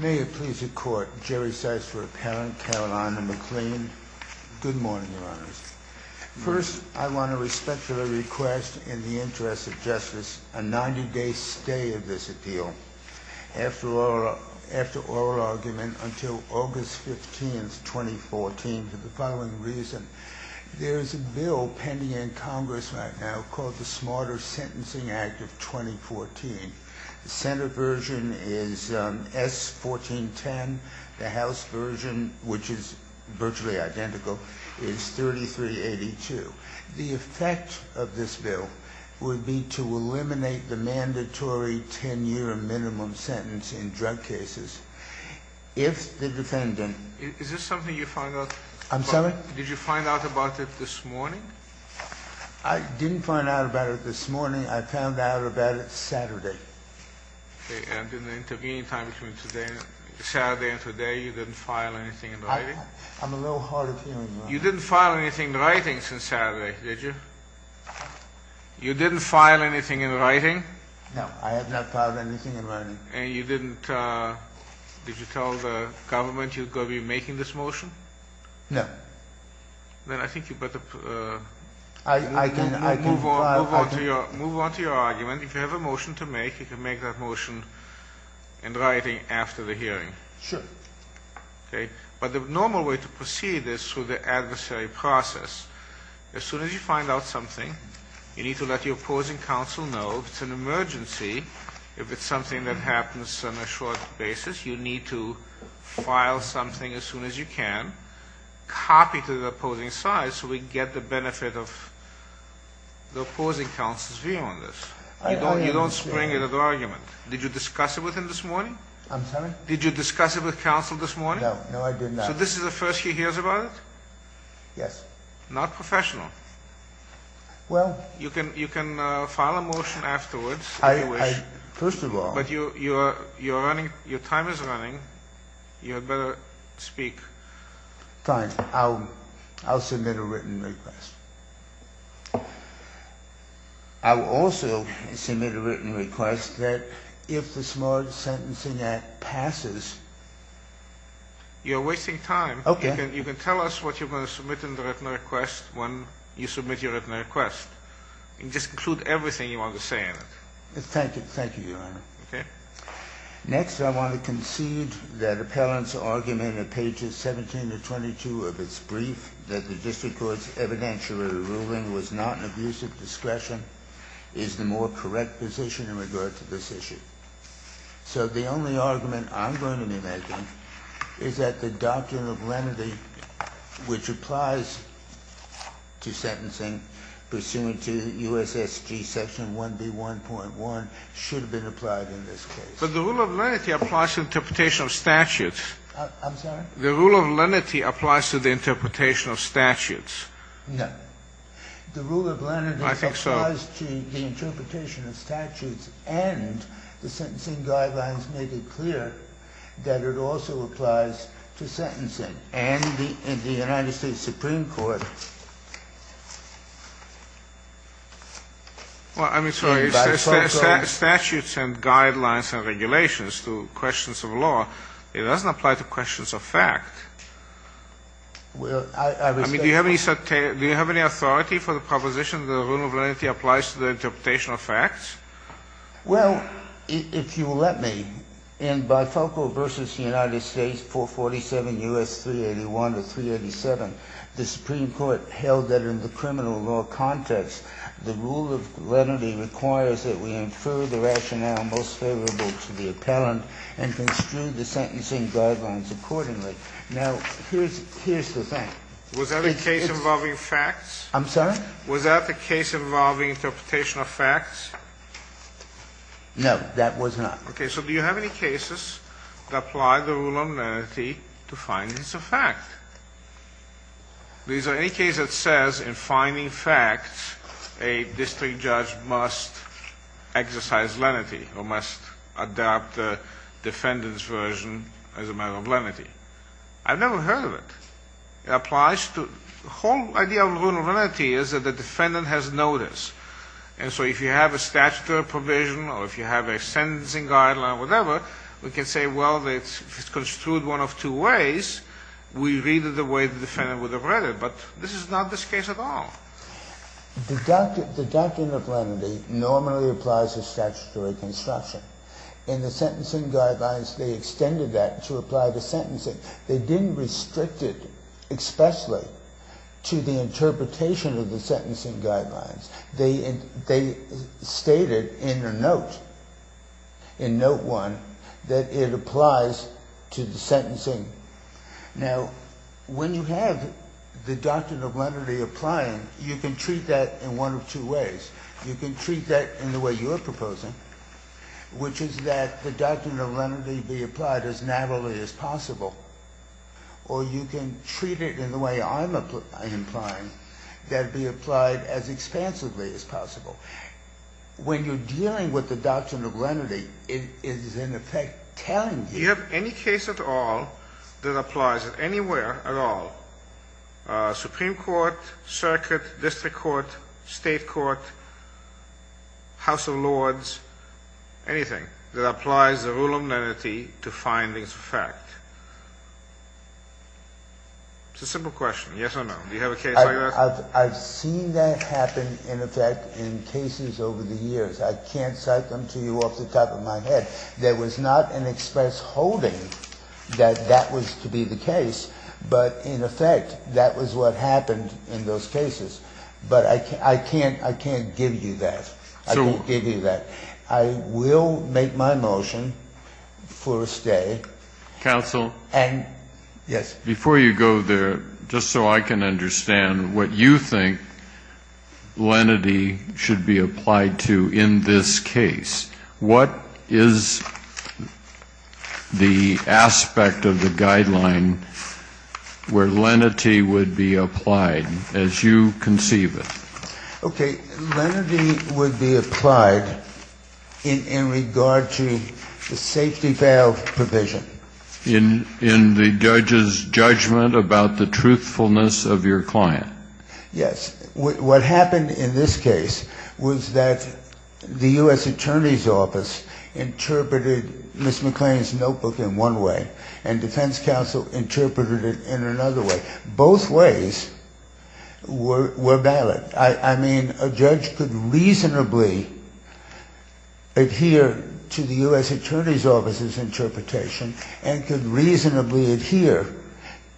May it please the Court, Jerry Seitz for Appellant, Carolina McLean. Good morning, Your Honors. First, I want to respectfully request, in the interest of justice, a 90-day stay of this appeal. After oral argument until August 15, 2014, for the following reason. There is a bill pending in Congress right now called the Smarter Sentencing Act of 2014. The Senate version is S1410. The House version, which is virtually identical, is 3382. The effect of this bill would be to eliminate the mandatory 10-year minimum sentence in drug cases. If the defendant... Is this something you found out... I'm sorry? Did you find out about it this morning? I didn't find out about it this morning. I found out about it Saturday. And in the intervening time between Saturday and today, you didn't file anything in writing? I'm a little hard of hearing right now. You didn't file anything in writing since Saturday, did you? You didn't file anything in writing? No, I have not filed anything in writing. And you didn't... Did you tell the government you were going to be making this motion? No. Then I think you better move on to your argument. If you have a motion to make, you can make that motion in writing after the hearing. Sure. Okay? But the normal way to proceed is through the adversary process. As soon as you find out something, you need to let your opposing counsel know. If it's an emergency, if it's something that happens on a short basis, you need to file something as soon as you can. Copy to the opposing side so we get the benefit of the opposing counsel's view on this. You don't spring it as an argument. Did you discuss it with him this morning? I'm sorry? Did you discuss it with counsel this morning? No. No, I did not. So this is the first he hears about it? Yes. Not professional. Well... You can file a motion afterwards if you wish. First of all... Your time is running. You had better speak. Fine. I'll submit a written request. I will also submit a written request that if the Smart Sentencing Act passes... You're wasting time. Okay. You can tell us what you're going to submit in the written request when you submit your written request. Just include everything you want to say in it. Thank you, Your Honor. Okay. Next, I want to concede that appellant's argument in pages 17 to 22 of its brief, that the district court's evidentiary ruling was not an abuse of discretion, is the more correct position in regard to this issue. So the only argument I'm going to be making is that the doctrine of lenity, which applies to sentencing pursuant to U.S.S.G. Section 1B1.1, should have been applied in this case. But the rule of lenity applies to interpretation of statutes. I'm sorry? The rule of lenity applies to the interpretation of statutes. No. The rule of lenity... I think so. ...applies to the interpretation of statutes and the sentencing guidelines make it clear that it also applies to sentencing. And in the United States Supreme Court... Well, I'm sorry. ...in Bifoco... Statutes and guidelines and regulations to questions of law. It doesn't apply to questions of fact. Well, I respect... I mean, do you have any authority for the proposition that the rule of lenity applies to the interpretation of facts? Well, if you'll let me, in Bifoco v. United States 447 U.S. 381 to 387, the Supreme Court held that in the criminal law context, the rule of lenity requires that we infer the rationale most favorable to the appellant and construe the sentencing guidelines accordingly. Now, here's the thing. Was that a case involving facts? I'm sorry? Was that a case involving interpretation of facts? No, that was not. Okay. So do you have any cases that apply the rule of lenity to findings of fact? Is there any case that says in finding facts, a district judge must exercise lenity or must adopt the defendant's version as a matter of lenity? I've never heard of it. The whole idea of the rule of lenity is that the defendant has notice. And so if you have a statutory provision or if you have a sentencing guideline or whatever, we can say, well, if it's construed one of two ways, we read it the way the defendant would have read it. But this is not this case at all. The doctrine of lenity normally applies to statutory construction. In the sentencing guidelines, they extended that to apply to sentencing. They didn't restrict it expressly to the interpretation of the sentencing guidelines. They stated in their note, in note one, that it applies to the sentencing. Now, when you have the doctrine of lenity applying, you can treat that in one of two ways. You can treat that in the way you're proposing, which is that the doctrine of lenity be applied as narrowly as possible. Or you can treat it in the way I'm implying, that it be applied as expansively as possible. When you're dealing with the doctrine of lenity, it is in effect telling you. You have any case at all that applies anywhere at all, Supreme Court, circuit, district court, state court, house of lords, anything that applies the rule of lenity to findings of fact? It's a simple question. Yes or no? Do you have a case like that? I've seen that happen in effect in cases over the years. I can't cite them to you off the top of my head. There was not an express holding that that was to be the case. But in effect, that was what happened in those cases. But I can't give you that. I can't give you that. I will make my motion for a stay. Counsel? And, yes. Before you go there, just so I can understand what you think lenity should be applied to in this case, what is the aspect of the guideline where lenity would be applied as you conceive it? Okay. Lenity would be applied in regard to the safety valve provision. In the judge's judgment about the truthfulness of your client? Yes. What happened in this case was that the U.S. Attorney's Office interpreted Ms. McLean's notebook in one way and defense counsel interpreted it in another way. Both ways were valid. I mean, a judge could reasonably adhere to the U.S. Attorney's Office's interpretation and could reasonably adhere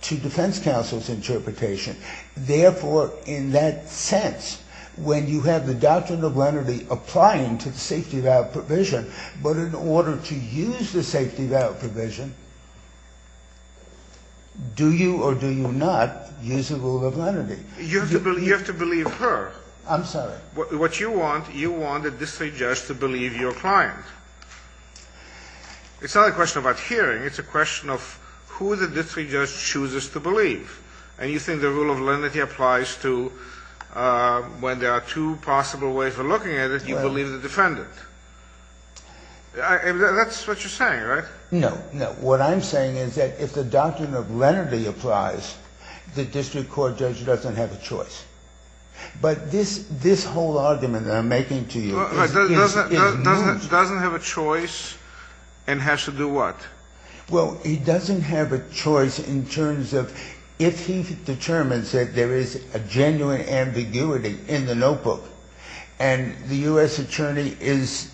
to defense counsel's interpretation. Therefore, in that sense, when you have the doctrine of lenity applying to the safety valve provision, do you or do you not use the rule of lenity? You have to believe her. I'm sorry. What you want, you want the district judge to believe your client. It's not a question about hearing. It's a question of who the district judge chooses to believe. And you think the rule of lenity applies to when there are two possible ways of looking at it, you believe the defendant. That's what you're saying, right? No. No. What I'm saying is that if the doctrine of lenity applies, the district court judge doesn't have a choice. But this whole argument that I'm making to you is no judge. Doesn't have a choice and has to do what? Well, he doesn't have a choice in terms of if he determines that there is a genuine ambiguity in the notebook and the U.S. attorney is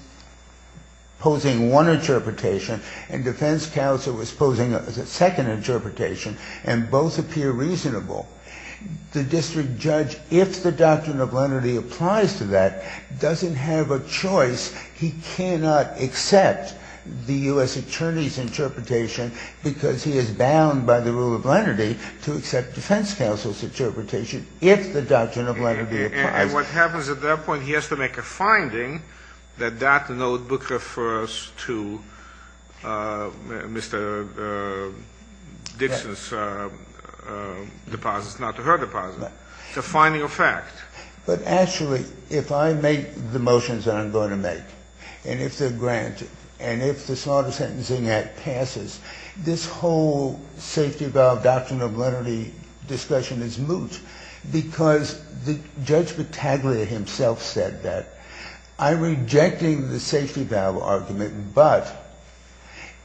posing one interpretation and defense counsel is posing a second interpretation and both appear reasonable, the district judge, if the doctrine of lenity applies to that, doesn't have a choice. He cannot accept the U.S. attorney's interpretation because he is bound by the rule of lenity to accept defense counsel's interpretation if the doctrine of lenity applies. And what happens at that point, he has to make a finding that that notebook refers to Mr. Dixon's deposit, not to her deposit. It's a finding of fact. But actually, if I make the motions that I'm going to make, and if they're granted and if the Smarter Sentencing Act passes, this whole safety valve doctrine of lenity discussion is moot because Judge Battaglia himself said that. I'm rejecting the safety valve argument, but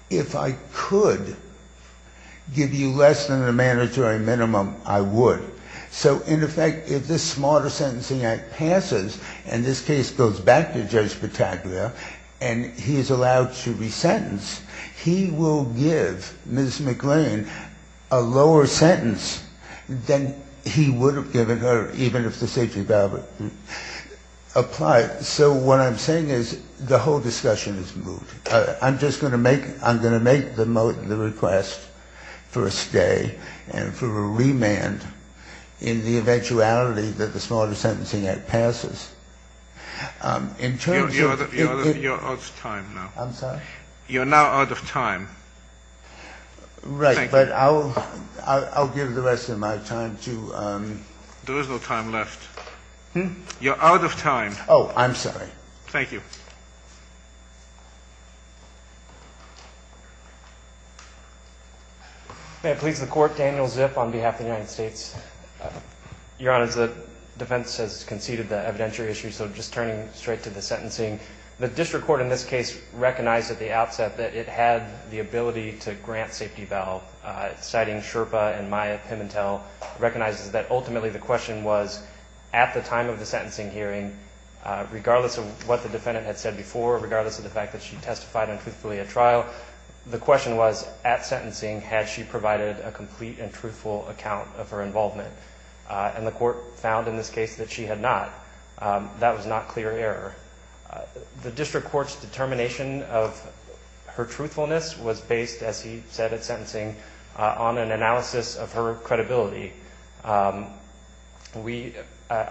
if I could give you less than the mandatory minimum, I would. So, in effect, if this Smarter Sentencing Act passes and this case goes back to the district judge, who is allowed to resentence, he will give Ms. McLean a lower sentence than he would have given her even if the safety valve applied. So what I'm saying is the whole discussion is moot. I'm just going to make the request for a stay and for a remand in the eventuality that the Smarter Sentencing Act passes. In terms of... You're out of time now. I'm sorry? You're now out of time. Right. Thank you. But I'll give the rest of my time to... There is no time left. You're out of time. Oh, I'm sorry. Thank you. May it please the Court, Daniel Zip on behalf of the United States. Your Honor, the defense has conceded the evidentiary issue, so just turning straight to the sentencing. The district court in this case recognized at the outset that it had the ability to grant safety valve, citing Sherpa and Maya Pimentel, recognizes that ultimately the question was, at the time of the sentencing hearing, regardless of what the defendant had said before, regardless of the fact that she testified untruthfully at trial, the question was, at sentencing, had she provided a complete and truthful account of her involvement? And the court found in this case that she had not. That was not clear error. The district court's determination of her truthfulness was based, as he said at sentencing, on an analysis of her credibility. I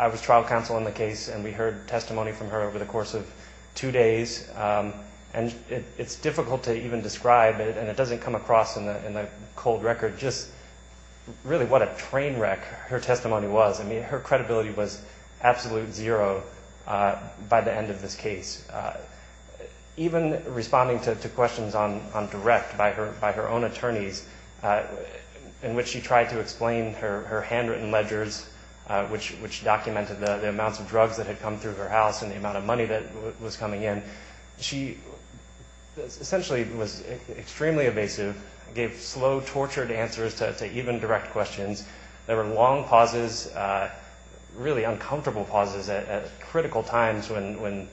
was trial counsel in the case, and we heard testimony from her over the course of two days, and it's difficult to even describe it, and it doesn't come across in the cold record just really what a train wreck her testimony was. I mean, her credibility was absolute zero by the end of this case. Even responding to questions on direct by her own attorneys, in which she tried to explain her handwritten ledgers, which documented the amounts of drugs that had come through her house and the amount of money that was coming in, she essentially was extremely evasive, gave slow, tortured answers to even direct questions. There were long pauses, really uncomfortable pauses at critical times when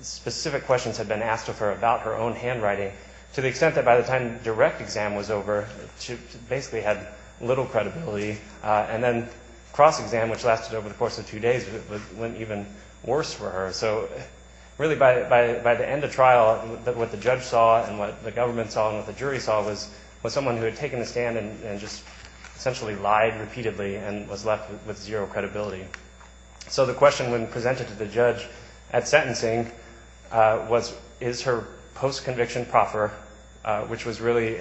specific questions had been asked of her about her own handwriting, to the extent that by the time direct exam was over, she basically had little credibility. And then cross-exam, which lasted over the course of two days, went even worse for her. So really by the end of trial, what the judge saw and what the government saw and what the jury saw was someone who had taken a stand and just essentially lied repeatedly and was left with zero credibility. So the question when presented to the judge at sentencing was, is her post conviction proper, which was really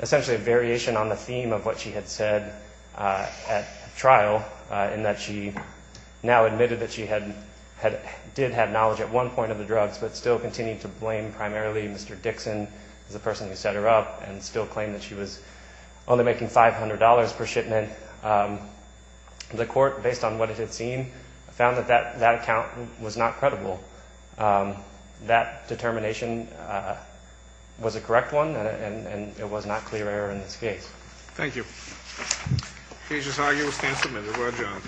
essentially a variation on the theme of what she had said at trial, in that she now admitted that she did have knowledge at one point of the drugs, but still continued to blame primarily Mr. Dixon as the person who set her up and still claimed that she was only making $500 per shipment. The court, based on what it had seen, found that that account was not credible. That determination was a correct one and it was not clear error in this case. Thank you. Cases argued, stand submitted. We're adjourned.